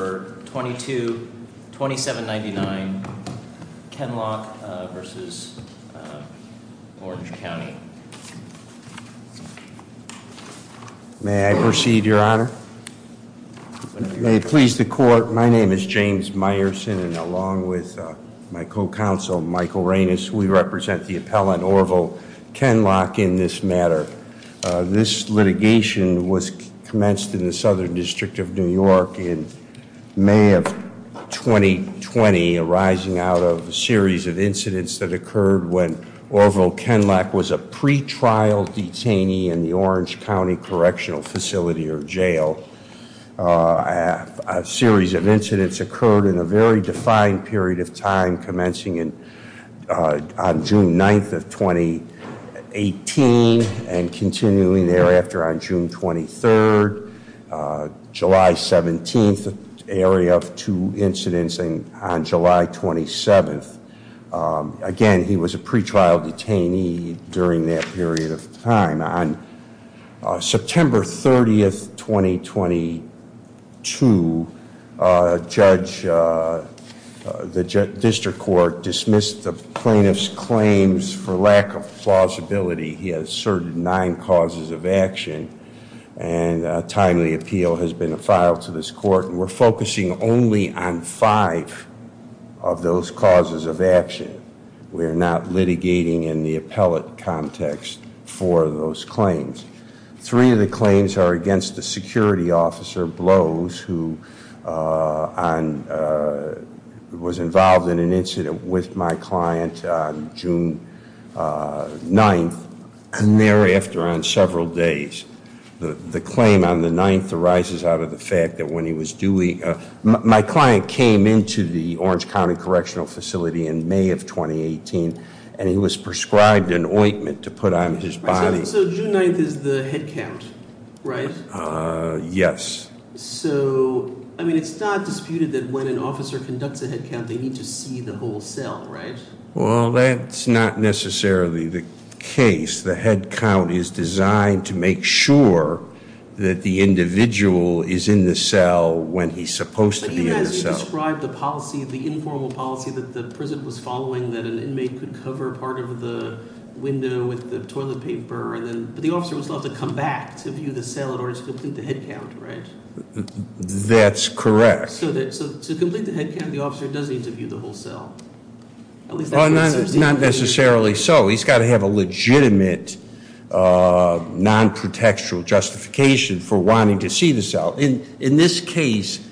for 22-2799 Kenlock v. Orange County. May I proceed, Your Honor? May it please the court, my name is James Meyerson, and along with my co-counsel, Michael Reines, we represent the appellant Orville Kenlock in this matter. This litigation was commenced in the Southern District of New York in May of 2020, arising out of a series of incidents that occurred when Orville Kenlock was a pre-trial detainee in the Orange County Correctional Facility or Jail. A series of incidents occurred in a very defined period of time, commencing on June 9th of 2018, and continuing thereafter on June 23rd. July 17th, an area of two incidents, and on July 27th. Again, he was a pre-trial detainee during that period of time. On September 30th, 2022, a judge, the district court dismissed the plaintiff's claims for lack of plausibility. He asserted nine causes of action, and a timely appeal has been filed to this court. And we're focusing only on five of those causes of action. We're not litigating in the appellate context for those claims. Three of the claims are against the security officer, Blows, who was involved in an incident with my client on June 9th, and thereafter on several days. The claim on the 9th arises out of the fact that when he was doing, my client came into the Orange County Correctional Facility in May of 2018, and he was prescribed an ointment to put on his body. So June 9th is the head count, right? Yes. So, I mean, it's not disputed that when an officer conducts a head count, they need to see the whole cell, right? Well, that's not necessarily the case. The head count is designed to make sure that the individual is in the cell when he's supposed to be in the cell. But you described the policy, the informal policy that the prison was following, that an inmate could cover part of the window with the toilet paper, and then, but the officer was allowed to come back to view the cell in order to complete the head count, right? That's correct. So to complete the head count, the officer does need to view the whole cell. At least that's what it seems to be. Not necessarily so. He's got to have a legitimate non-protectural justification for wanting to see the cell. In this case,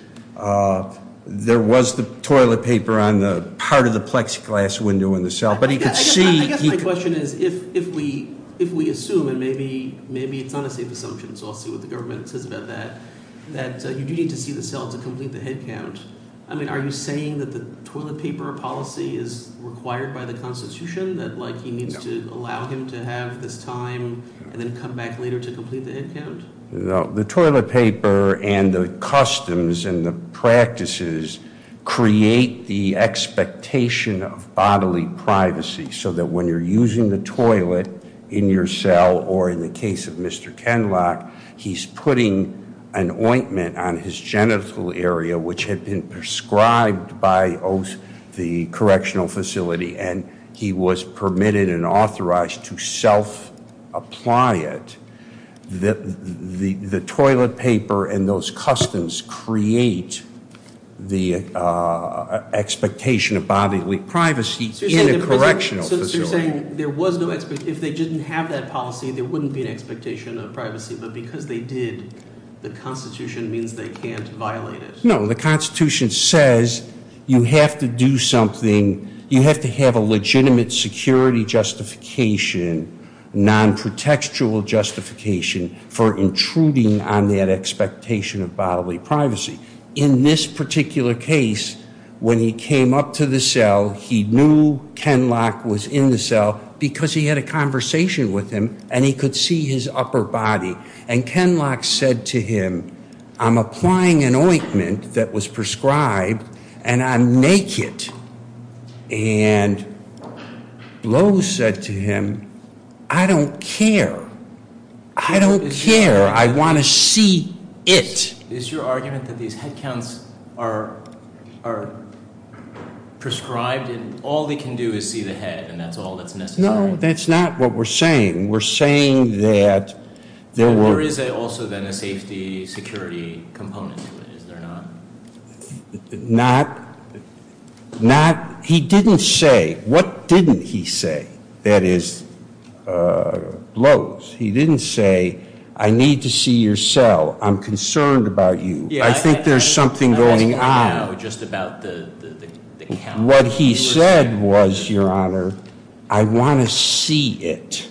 there was the toilet paper on the part of the plexiglass window in the cell, but he could see- I guess my question is, if we assume, and maybe it's not a safe assumption, so I'll see what the government says about that, that you do need to see the cell to complete the head count. I mean, are you saying that the toilet paper policy is required by the Constitution, that he needs to allow him to have this time and then come back later to complete the head count? No, the toilet paper and the customs and the practices create the expectation of bodily privacy. So that when you're using the toilet in your cell, or in the case of Mr. Kenloch, he's putting an ointment on his genital area, which had been prescribed by the correctional facility. And he was permitted and authorized to self-apply it. The toilet paper and those customs create the expectation of bodily privacy in a correctional facility. So you're saying, if they didn't have that policy, there wouldn't be an expectation of privacy. But because they did, the Constitution means they can't violate it. No, the Constitution says you have to do something, you have to have a legitimate security justification, non-protectual justification for intruding on that expectation of bodily privacy. In this particular case, when he came up to the cell, he knew Kenloch was in the cell because he had a conversation with him and he could see his upper body. And Kenloch said to him, I'm applying an ointment that was prescribed and I'm naked. And Low said to him, I don't care. I don't care. I want to see it. Is your argument that these head counts are prescribed and all they can do is see the head and that's all that's necessary? No, that's not what we're saying. We're saying that there were- There is also then a safety security component to it, is there not? Not, he didn't say, what didn't he say? That is Low's, he didn't say, I need to see your cell. I'm concerned about you. I think there's something going on. Just about the count. What he said was, your honor, I want to see it.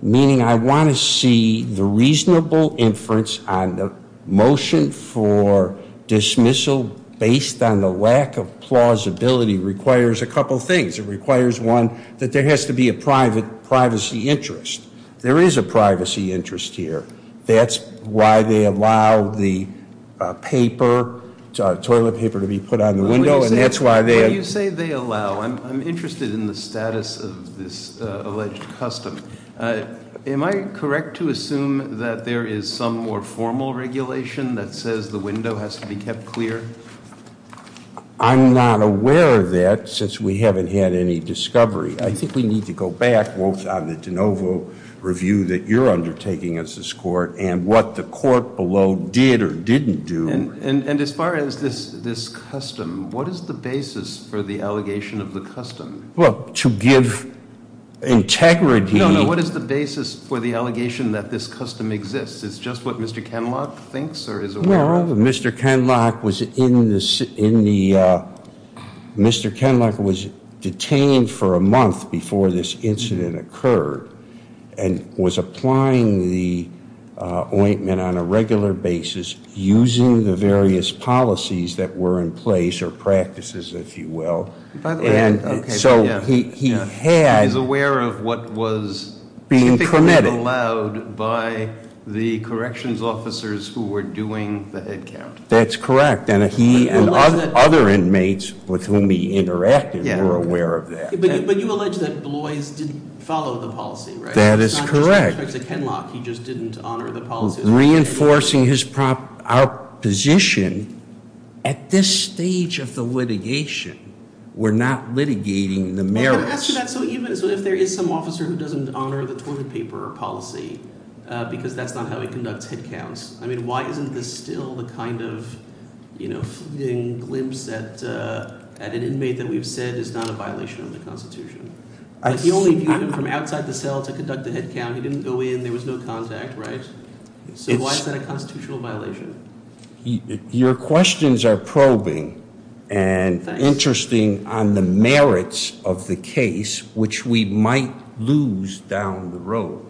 Meaning I want to see the reasonable inference on the motion for dismissal based on the lack of plausibility requires a couple things. It requires one, that there has to be a privacy interest. There is a privacy interest here. That's why they allow the toilet paper to be put on the window, and that's why they- What do you say they allow? I'm interested in the status of this alleged custom. Am I correct to assume that there is some more formal regulation that says the window has to be kept clear? I'm not aware of that since we haven't had any discovery. I think we need to go back both on the DeNovo review that you're undertaking as this court and what the court below did or didn't do. And as far as this custom, what is the basis for the allegation of the custom? Well, to give integrity- No, no, what is the basis for the allegation that this custom exists? It's just what Mr. Kenlock thinks or is aware of? Mr. Kenlock was in the, Mr. Kenlock was detained for a month before this incident occurred and was applying the ointment on a regular basis using the various policies that were in place or practices, if you will. And so he had- He's aware of what was typically allowed by the corrections officers who were doing the head count. That's correct, and he and other inmates with whom he interacted were aware of that. But you allege that Bloys didn't follow the policy, right? That is correct. With respect to Kenlock, he just didn't honor the policy. Reinforcing his position, at this stage of the litigation, we're not litigating the merits. I'm going to ask you that, so even if there is some officer who doesn't honor the toilet paper policy, because that's not how he conducts head counts. I mean, why isn't this still the kind of glimpse at an inmate that we've said is not a violation of the Constitution? He only viewed him from outside the cell to conduct the head count. He didn't go in, there was no contact, right? So why is that a constitutional violation? Your questions are probing and interesting on the merits of the case, which we might lose down the road.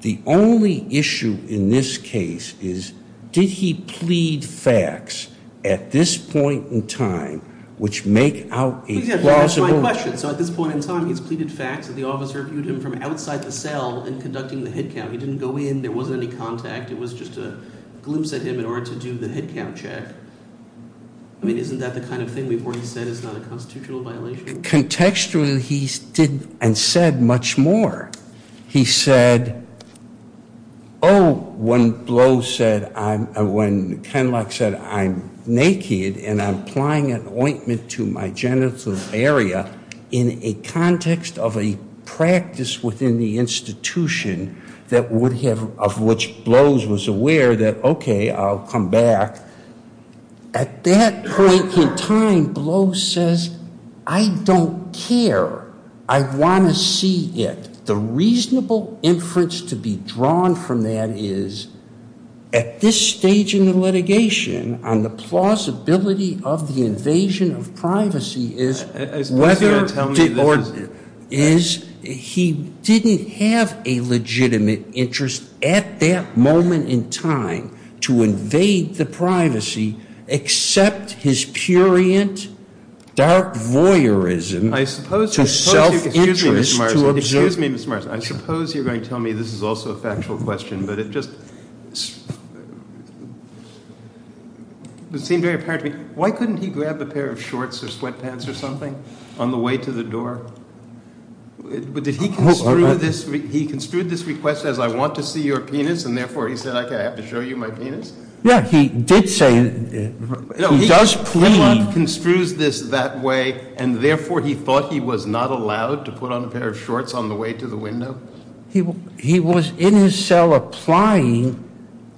The only issue in this case is, did he plead facts at this point in time, which make out a plausible- Well, I'll submit- That's my question. So at this point in time, he's pleaded facts that the officer viewed him from outside the cell in conducting the head count. He didn't go in, there wasn't any contact, it was just a glimpse at him in order to do the head count check. I mean, isn't that the kind of thing we've already said is not a constitutional violation? Contextually, he did and said much more. He said, when Bloys said, when Kenlock said, I'm naked and I'm applying an ointment to my genital area in a context of a practice within the institution that would have, of which Bloys was aware that, okay, I'll come back. At that point in time, Bloys says, I don't care. I want to see it. The reasonable inference to be drawn from that is, at this stage in the litigation, on the plausibility of the invasion of privacy is whether- I suppose you're going to tell me this is- Is he didn't have a legitimate interest at that moment in time to invade the privacy, except his purient, dark voyeurism to self-interest to observe- Excuse me, Mr. Marsden. I suppose you're going to tell me this is also a factual question, but it just would seem very apparent to me, why couldn't he grab a pair of shorts or sweatpants or something on the way to the door? Did he construe this request as I want to see your penis, and therefore he said, okay, I have to show you my penis? Yeah, he did say, he does plead- He did say, he did plead to the window? He was in his cell applying-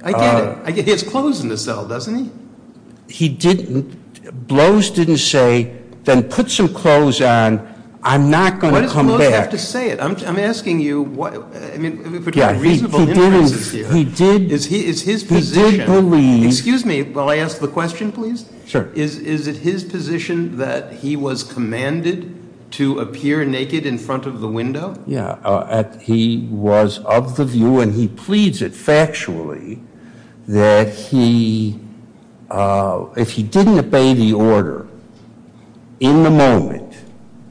I get it. I get it. He has clothes in the cell, doesn't he? He didn't, Bloys didn't say, then put some clothes on, I'm not going to come back. What does Bloys have to say? I'm asking you, I mean, between reasonable inferences here, is his position- He did believe- Excuse me, while I ask the question, please? Sure. Is it his position that he was commanded to appear naked in front of the window? Yeah, he was of the view, and he pleads it factually, that if he didn't obey the order in the moment,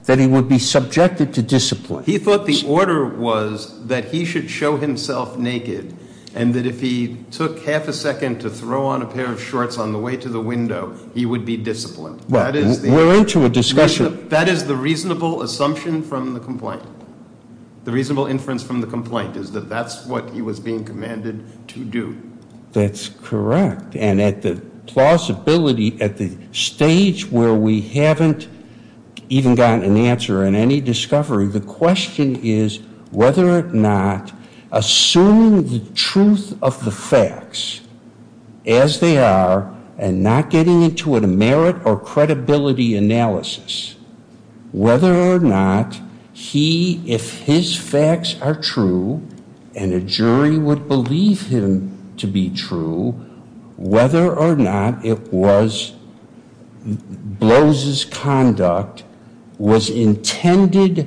that he would be subjected to discipline. He thought the order was that he should show himself naked, and that if he took half a second to throw on a pair of shorts on the way to the window, he would be disciplined. That is the- We're into a discussion. That is the reasonable assumption from the complaint. The reasonable inference from the complaint is that that's what he was being commanded to do. That's correct, and at the plausibility, at the stage where we haven't even gotten an answer in any discovery, the question is whether or not assuming the truth of the facts as they are, and not getting into a merit or credibility analysis, whether or not he, if his facts are true, and a jury would believe him to be true, whether or not it was Blose's conduct was intended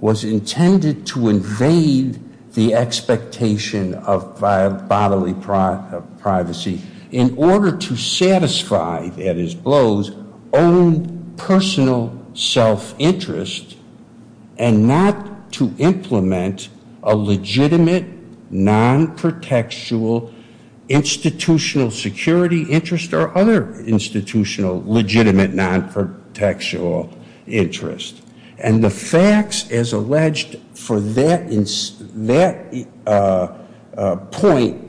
to invade the expectation of bodily privacy in order to satisfy, that is Blose, own personal self-interest and not to implement a legitimate non-protectual institutional security interest or other institutional legitimate non-protectual interest. And the facts, as alleged for that point,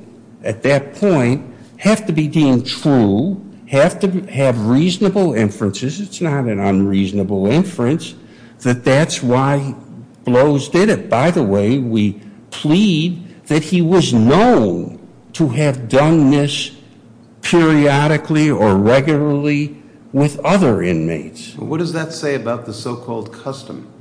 at that point, have to be deemed true, have to have reasonable inferences. It's not an unreasonable inference that that's why Blose did it. By the way, we plead that he was known to have done this periodically or regularly with other inmates. What does that say about the so-called custom?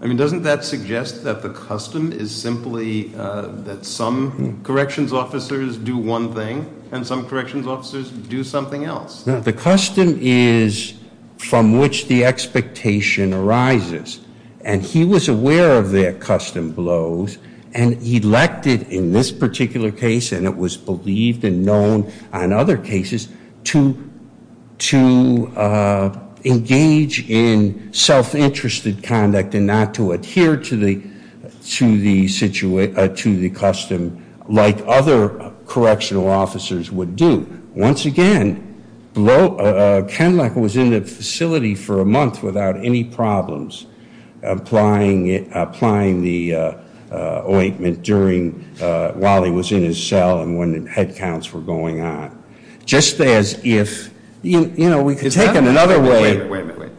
I mean, doesn't that suggest that the custom is simply that some corrections officers do one thing and some corrections officers do something else? Now, the custom is from which the expectation arises. And he was aware of their custom, Blose, and he elected, in this particular case, and it was believed and known on other cases, to engage in self-interested conduct and not to adhere to the custom like other correctional officers would do. Once again, Kenluck was in the facility for a month without any problems applying the ointment while he was in his cell and when head counts were going on. Just as if, we could take it another way. Wait a minute, wait a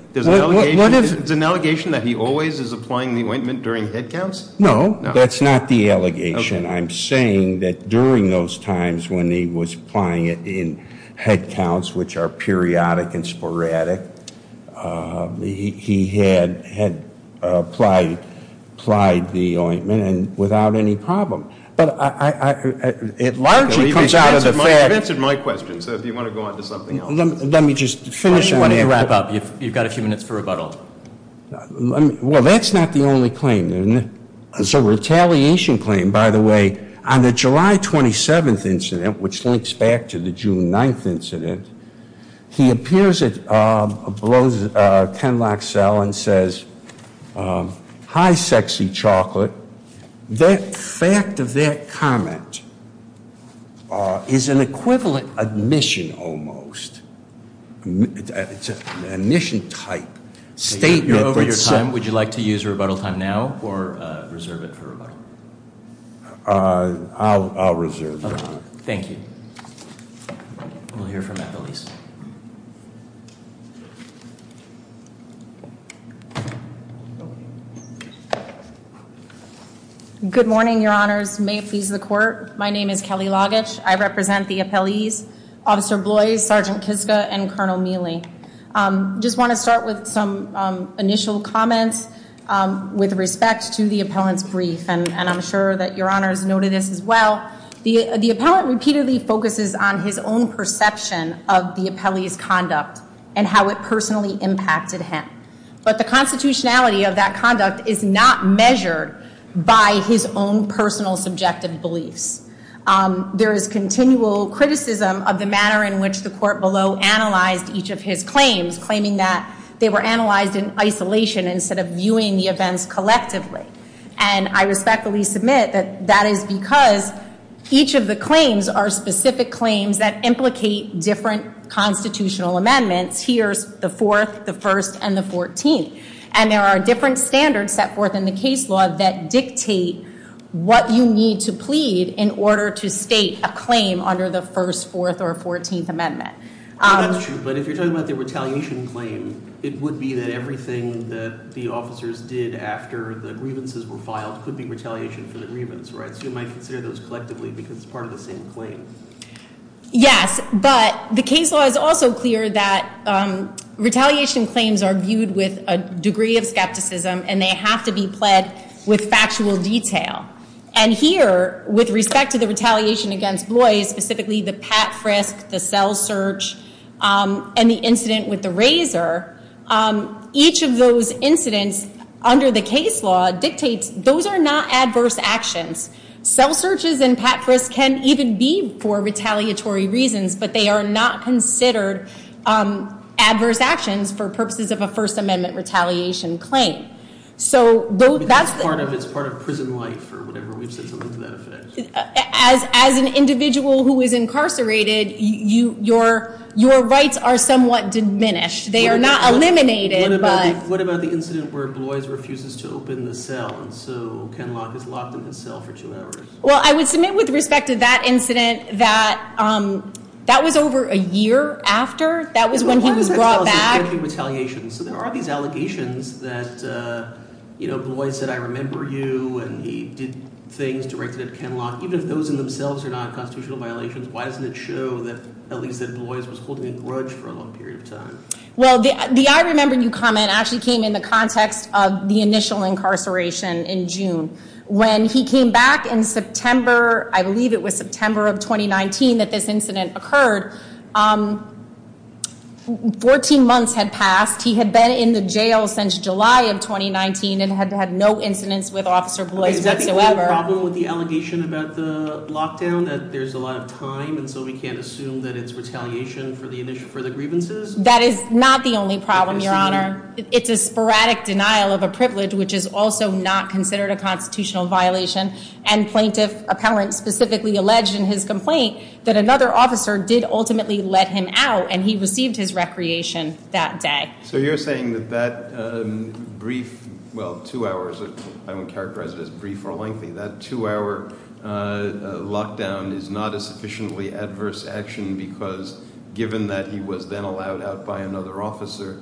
minute. There's an allegation that he always is applying the ointment during head counts? No, that's not the allegation. I'm saying that during those times when he was applying it in head counts, which are periodic and sporadic, he had applied the ointment and without any problem. But it largely comes out of the fact- You've answered my question, so if you want to go on to something else. Let me just finish and wrap up. You've got a few minutes for rebuttal. Well, that's not the only claim. So retaliation claim, by the way, on the July 27th incident, which links back to the June 9th incident, he appears at Kenluck's cell and says, Hi, sexy chocolate. That fact of that comment is an equivalent admission almost. It's an admission type statement that's- You're over your time. Would you like to use rebuttal time now or reserve it for rebuttal? I'll reserve it. Thank you. We'll hear from at the least. Okay. Good morning, your honors. May it please the court. My name is Kelly Loggish. I represent the appellees, Officer Bloys, Sergeant Kiska, and Colonel Mealy. Just want to start with some initial comments with respect to the appellant's brief. And I'm sure that your honors noted this as well. The appellant repeatedly focuses on his own perception of the appellee's conduct and how it personally impacted him. But the constitutionality of that conduct is not measured by his own personal subjective beliefs. There is continual criticism of the manner in which the court below analyzed each of his claims, claiming that they were analyzed in isolation instead of viewing the events collectively. And I respectfully submit that that is because each of the claims are specific claims that implicate different constitutional amendments. Here's the fourth, the first, and the 14th. And there are different standards set forth in the case law that dictate what you need to plead in order to state a claim under the first, fourth, or 14th amendment. That's true, but if you're talking about the retaliation claim, it would be that everything that the officers did after the grievances were filed could be retaliation for the grievance, right? So you might consider those collectively because it's part of the same claim. Yes, but the case law is also clear that retaliation claims are viewed with a degree of skepticism, and they have to be pled with factual detail. And here, with respect to the retaliation against Bloy, specifically the Pat Frisk, the cell search, and the incident with the razor, each of those incidents under the case law dictates those are not adverse actions. Cell searches and Pat Frisk can even be for retaliatory reasons, but they are not considered adverse actions for purposes of a First Amendment retaliation claim. So that's- It's part of prison life, or whatever, we've said something to that effect. As an individual who is incarcerated, your rights are somewhat diminished. They are not eliminated, but- Ken Locke was locked in his cell for two hours. Well, I would submit with respect to that incident that that was over a year after. That was when he was brought back. So why does that tell us there's going to be retaliation? So there are these allegations that Bloy said, I remember you, and he did things directed at Ken Locke. Even if those in themselves are not constitutional violations, why doesn't it show that at least that Bloy was holding a grudge for a long period of time? Well, the I remember you comment actually came in the context of the initial incarceration in June. When he came back in September, I believe it was September of 2019, that this incident occurred, 14 months had passed, he had been in the jail since July of 2019, and had had no incidents with Officer Bloy whatsoever. Is that the only problem with the allegation about the lockdown, that there's a lot of time, and so we can't assume that it's retaliation for the grievances? That is not the only problem, Your Honor. It's a sporadic denial of a privilege, which is also not considered a constitutional violation. And plaintiff appellant specifically alleged in his complaint that another officer did ultimately let him out, and he received his recreation that day. So you're saying that that brief, well, two hours, I wouldn't characterize it as brief or lengthy. That two hour lockdown is not a sufficiently adverse action because given that he was then allowed out by another officer,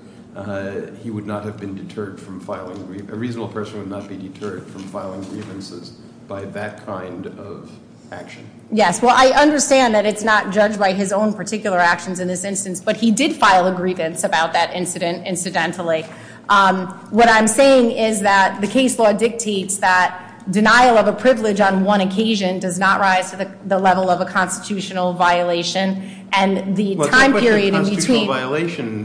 he would not have been deterred from filing, a reasonable person would not be deterred from filing grievances by that kind of action. Yes, well, I understand that it's not judged by his own particular actions in this instance, but he did file a grievance about that incident incidentally. What I'm saying is that the case law dictates that denial of a privilege on one occasion does not rise to the level of a constitutional violation. And the time period in between- Well, it's not a constitutional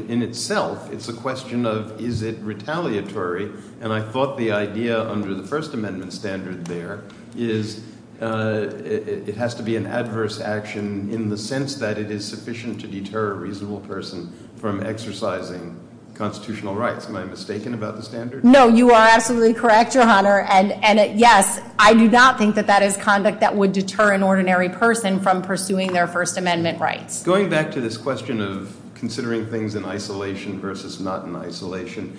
violation in itself, it's a question of is it retaliatory? And I thought the idea under the First Amendment standard there is it has to be an adverse action in the sense that it is sufficient to deter a reasonable person from exercising constitutional rights. Am I mistaken about the standard? No, you are absolutely correct, Your Honor. And yes, I do not think that that is conduct that would deter an ordinary person from pursuing their First Amendment rights. Going back to this question of considering things in isolation versus not in isolation,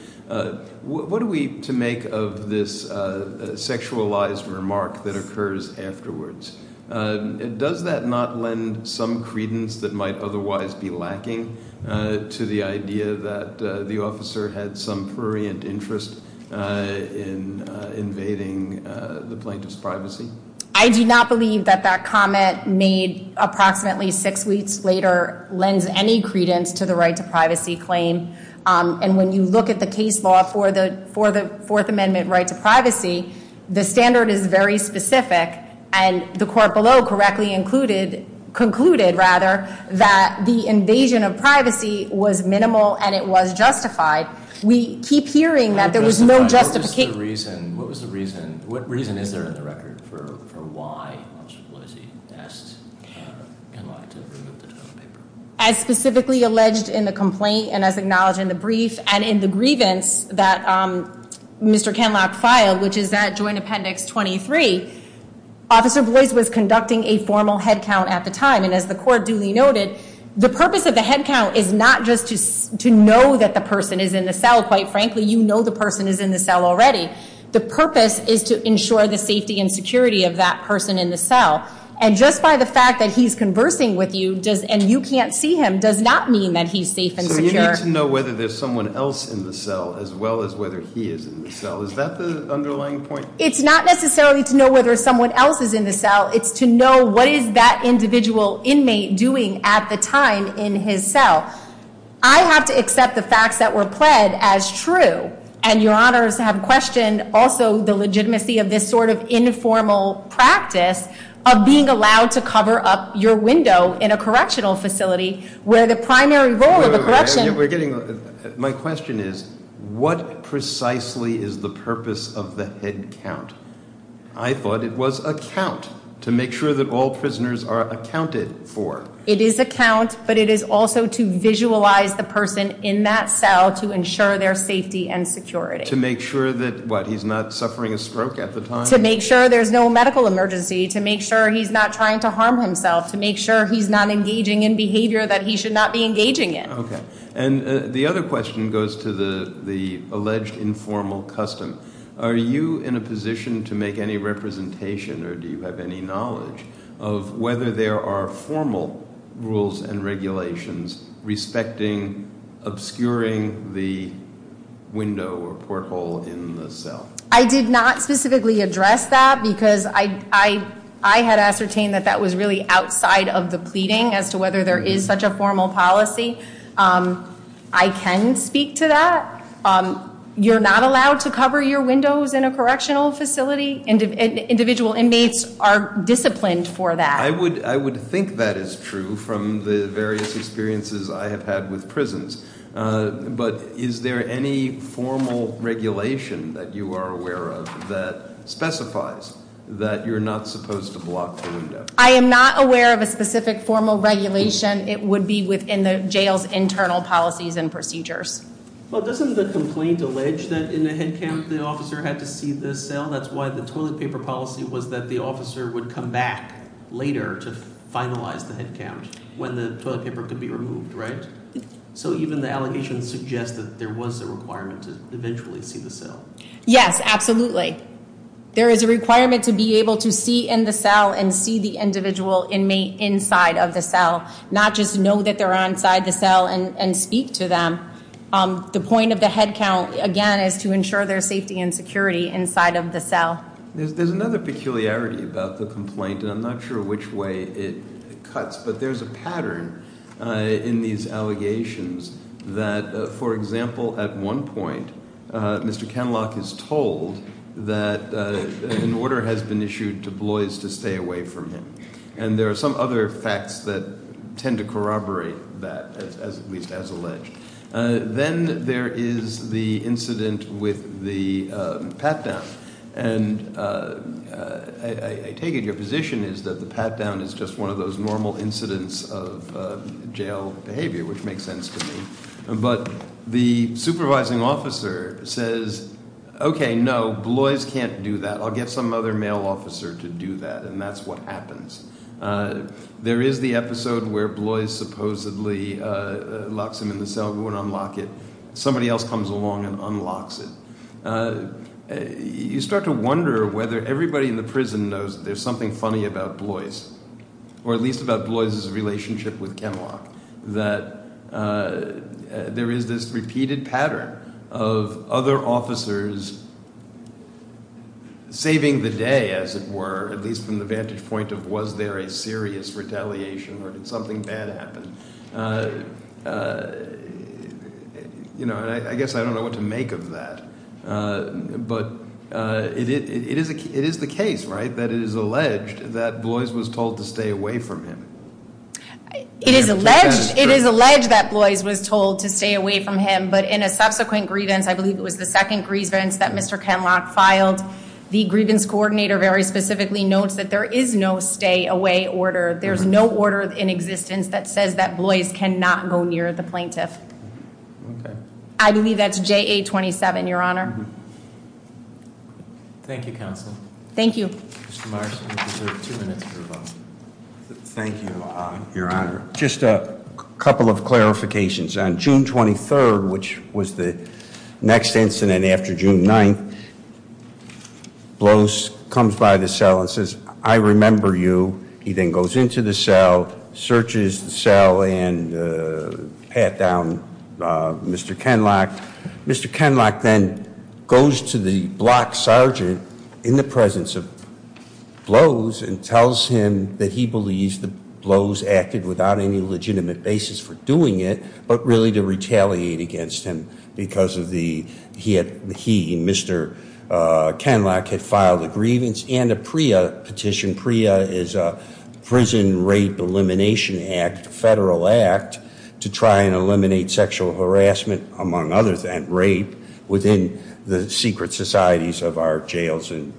what are we to make of this sexualized remark that occurs afterwards? Does that not lend some credence that might otherwise be lacking to the idea that the officer had some prurient interest in invading the plaintiff's privacy? I do not believe that that comment made approximately six weeks later lends any credence to the right to privacy claim. And when you look at the case law for the Fourth Amendment right to privacy, the standard is very specific and the court below correctly included, concluded rather, that the invasion of privacy was minimal and it was justified. We keep hearing that there was no justification. What was the reason? What reason is there in the record for why Officer Boise asked Kenlock to remove the tone paper? As specifically alleged in the complaint and as acknowledged in the brief and in the grievance that Mr. Kenlock filed, which is that joint appendix 23, Officer Boise was conducting a formal head count at the time. And as the court duly noted, the purpose of the head count is not just to know that the person is in the cell. Quite frankly, you know the person is in the cell already. The purpose is to ensure the safety and security of that person in the cell. And just by the fact that he's conversing with you and you can't see him does not mean that he's safe and secure. So you need to know whether there's someone else in the cell as well as whether he is in the cell. Is that the underlying point? It's not necessarily to know whether someone else is in the cell. It's to know what is that individual inmate doing at the time in his cell. I have to accept the facts that were pled as true. And your honors have questioned also the legitimacy of this sort of informal practice of being allowed to cover up your window in a correctional facility where the primary role of the correction- My question is, what precisely is the purpose of the head count? I thought it was a count to make sure that all prisoners are accounted for. It is a count, but it is also to visualize the person in that cell to ensure their safety and security. To make sure that, what, he's not suffering a stroke at the time? To make sure there's no medical emergency. To make sure he's not trying to harm himself. To make sure he's not engaging in behavior that he should not be engaging in. Okay, and the other question goes to the alleged informal custom. Are you in a position to make any representation, or do you have any knowledge, of whether there are formal rules and regulations respecting, obscuring the window or porthole in the cell? I did not specifically address that because I had ascertained that that was really a formal policy, I can speak to that. You're not allowed to cover your windows in a correctional facility, individual inmates are disciplined for that. I would think that is true from the various experiences I have had with prisons. But is there any formal regulation that you are aware of that specifies that you're not supposed to block the window? I am not aware of a specific formal regulation. It would be within the jail's internal policies and procedures. Well, doesn't the complaint allege that in the head count the officer had to see the cell? That's why the toilet paper policy was that the officer would come back later to finalize the head count when the toilet paper could be removed, right? So even the allegations suggest that there was a requirement to eventually see the cell. Yes, absolutely. There is a requirement to be able to see in the cell and see the individual inmate inside of the cell. Not just know that they're inside the cell and speak to them. The point of the head count, again, is to ensure their safety and security inside of the cell. There's another peculiarity about the complaint, and I'm not sure which way it cuts. But there's a pattern in these allegations that, for example, at one point, Mr. Kenlock is told that an order has been issued to Blois to stay away from him. And there are some other facts that tend to corroborate that, at least as alleged. Then there is the incident with the pat-down. And I take it your position is that the pat-down is just one of those normal incidents of jail behavior, which makes sense to me. But the supervising officer says, okay, no, Blois can't do that. I'll get some other male officer to do that, and that's what happens. There is the episode where Blois supposedly locks him in the cell, we want to unlock it. Somebody else comes along and unlocks it. You start to wonder whether everybody in the prison knows there's something funny about Blois, or at least about Blois' relationship with Kenlock, that there is this repeated pattern of other officers saving the day, as it were, at least from the vantage point of was there a serious retaliation or did something bad happen? And I guess I don't know what to make of that. But it is the case, right, that it is alleged that Blois was told to stay away from him. It is alleged that Blois was told to stay away from him, but in a subsequent grievance, I believe it was the second grievance that Mr. Kenlock filed, the grievance coordinator very specifically notes that there is no stay away order. There's no order in existence that says that Blois cannot go near the plaintiff. Okay. I believe that's JA 27, Your Honor. Thank you, Counsel. Thank you. Mr. Marsden, you deserve two minutes for your vote. Thank you, Your Honor. Just a couple of clarifications. On June 23rd, which was the next incident after June 9th, Blois comes by the cell and says, I remember you. He then goes into the cell, searches the cell, and pat down Mr. Kenlock. Mr. Kenlock then goes to the block sergeant in the presence of Blois and tells him that he believes that Blois acted without any legitimate basis for doing it. But really to retaliate against him because he and Mr. Kenlock had filed a grievance and a PREA petition. PREA is a Prison Rape Elimination Act, a federal act, to try and eliminate sexual harassment, among others, and rape within the secret societies of our jails and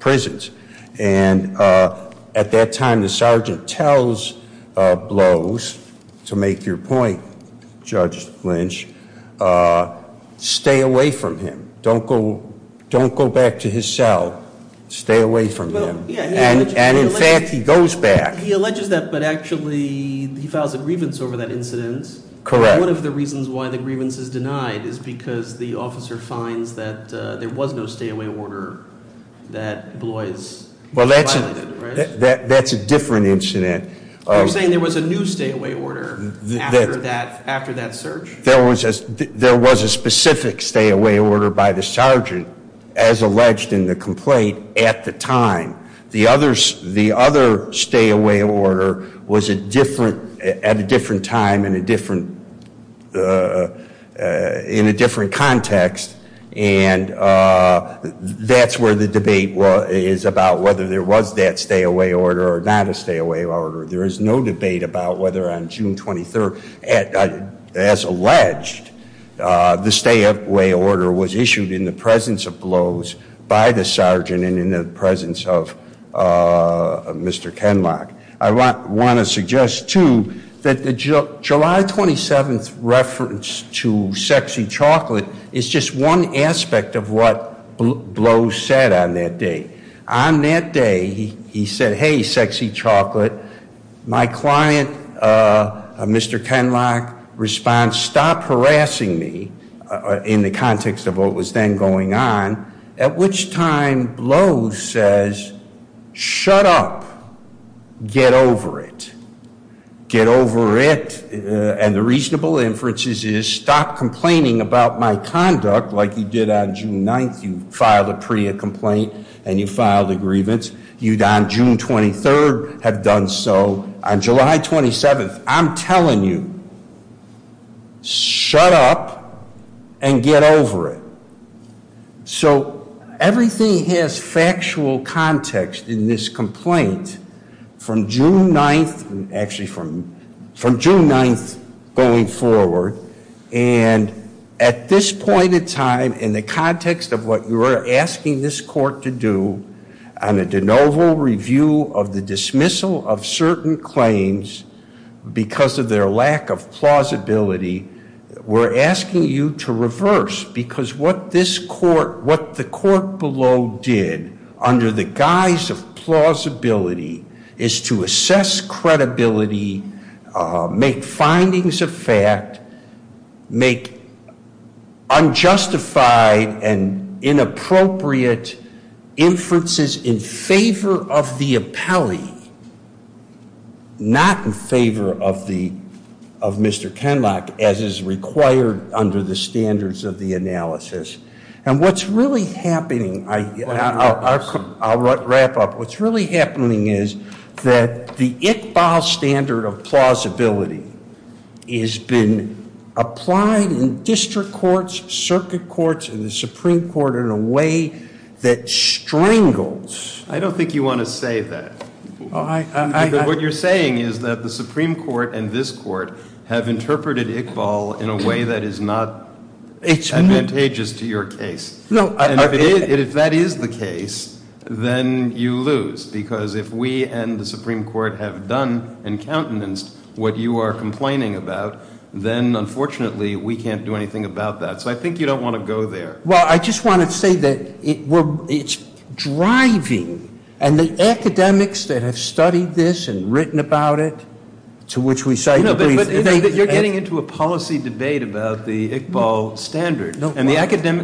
prisons. And at that time, the sergeant tells Blois, to make your point, Judge Lynch, stay away from him. Don't go back to his cell. Stay away from him. And in fact, he goes back. He alleges that, but actually he files a grievance over that incident. Correct. One of the reasons why the grievance is denied is because the officer finds that there was no stay away order that Blois violated, right? Well, that's a different incident. You're saying there was a new stay away order after that search? There was a specific stay away order by the sergeant, as alleged in the complaint, at the time. The other stay away order was at a different time in a different context. And that's where the debate is about whether there was that stay away order or not a stay away order. There is no debate about whether on June 23rd, as alleged, the stay away order was issued in the presence of Blois by the sergeant and in the presence of Mr. Kenlock. I want to suggest, too, that the July 27th reference to sexy chocolate is just one aspect of what Blois said on that day. On that day, he said, hey, sexy chocolate, my client, Mr. Kenlock, responds, stop harassing me in the context of what was then going on. At which time, Blois says, shut up, get over it. Get over it, and the reasonable inferences is stop complaining about my conduct like you did on June 9th. You filed a PREA complaint, and you filed a grievance. You, on June 23rd, have done so. On July 27th, I'm telling you, shut up and get over it. So everything has factual context in this complaint from June 9th, actually from June 9th going forward. And at this point in time, in the context of what you are asking this court to do, on a de novo review of the dismissal of certain claims because of their lack of plausibility. We're asking you to reverse, because what this court, what the court below did under the guise of plausibility is to assess credibility, make findings of fact, make unjustified and inappropriate inferences in favor of the appellee. Not in favor of Mr. Kenlock, as is required under the standards of the analysis. And what's really happening, I'll wrap up. What's really happening is that the Iqbal standard of plausibility has been applied in district courts, circuit courts, and the Supreme Court in a way that strangles. I don't think you want to say that. What you're saying is that the Supreme Court and this court have interpreted Iqbal in a way that is not advantageous to your case. And if that is the case, then you lose. Because if we and the Supreme Court have done and countenanced what you are complaining about, then unfortunately we can't do anything about that. So I think you don't want to go there. Well, I just want to say that it's driving, and the academics that have studied this and written about it, to which we cite the brief. You're getting into a policy debate about the Iqbal standard. And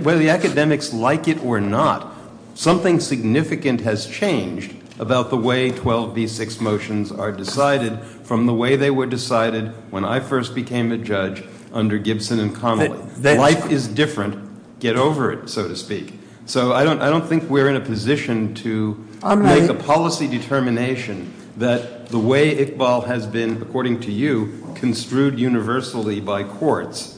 whether the academics like it or not, something significant has changed about the way 12B6 motions are decided from the way they were decided when I first became a judge under Gibson and Connolly. Life is different, get over it, so to speak. So I don't think we're in a position to make a policy determination that the way Iqbal has been, according to you, construed universally by courts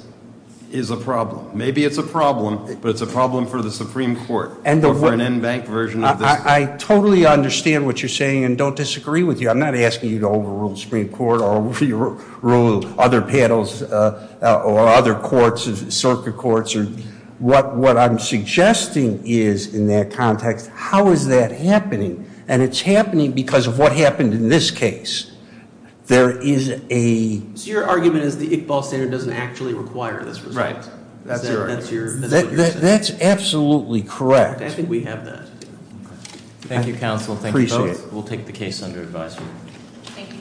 is a problem. Maybe it's a problem, but it's a problem for the Supreme Court, or for an in-bank version of this. I totally understand what you're saying and don't disagree with you. I'm not asking you to overrule the Supreme Court or overrule other panels or other courts, circuit courts. What I'm suggesting is, in that context, how is that happening? And it's happening because of what happened in this case. There is a- So your argument is the Iqbal standard doesn't actually require this result? Right. That's your argument. That's absolutely correct. I think we have that. Thank you, counsel. Thank you both. We'll take the case under advisory.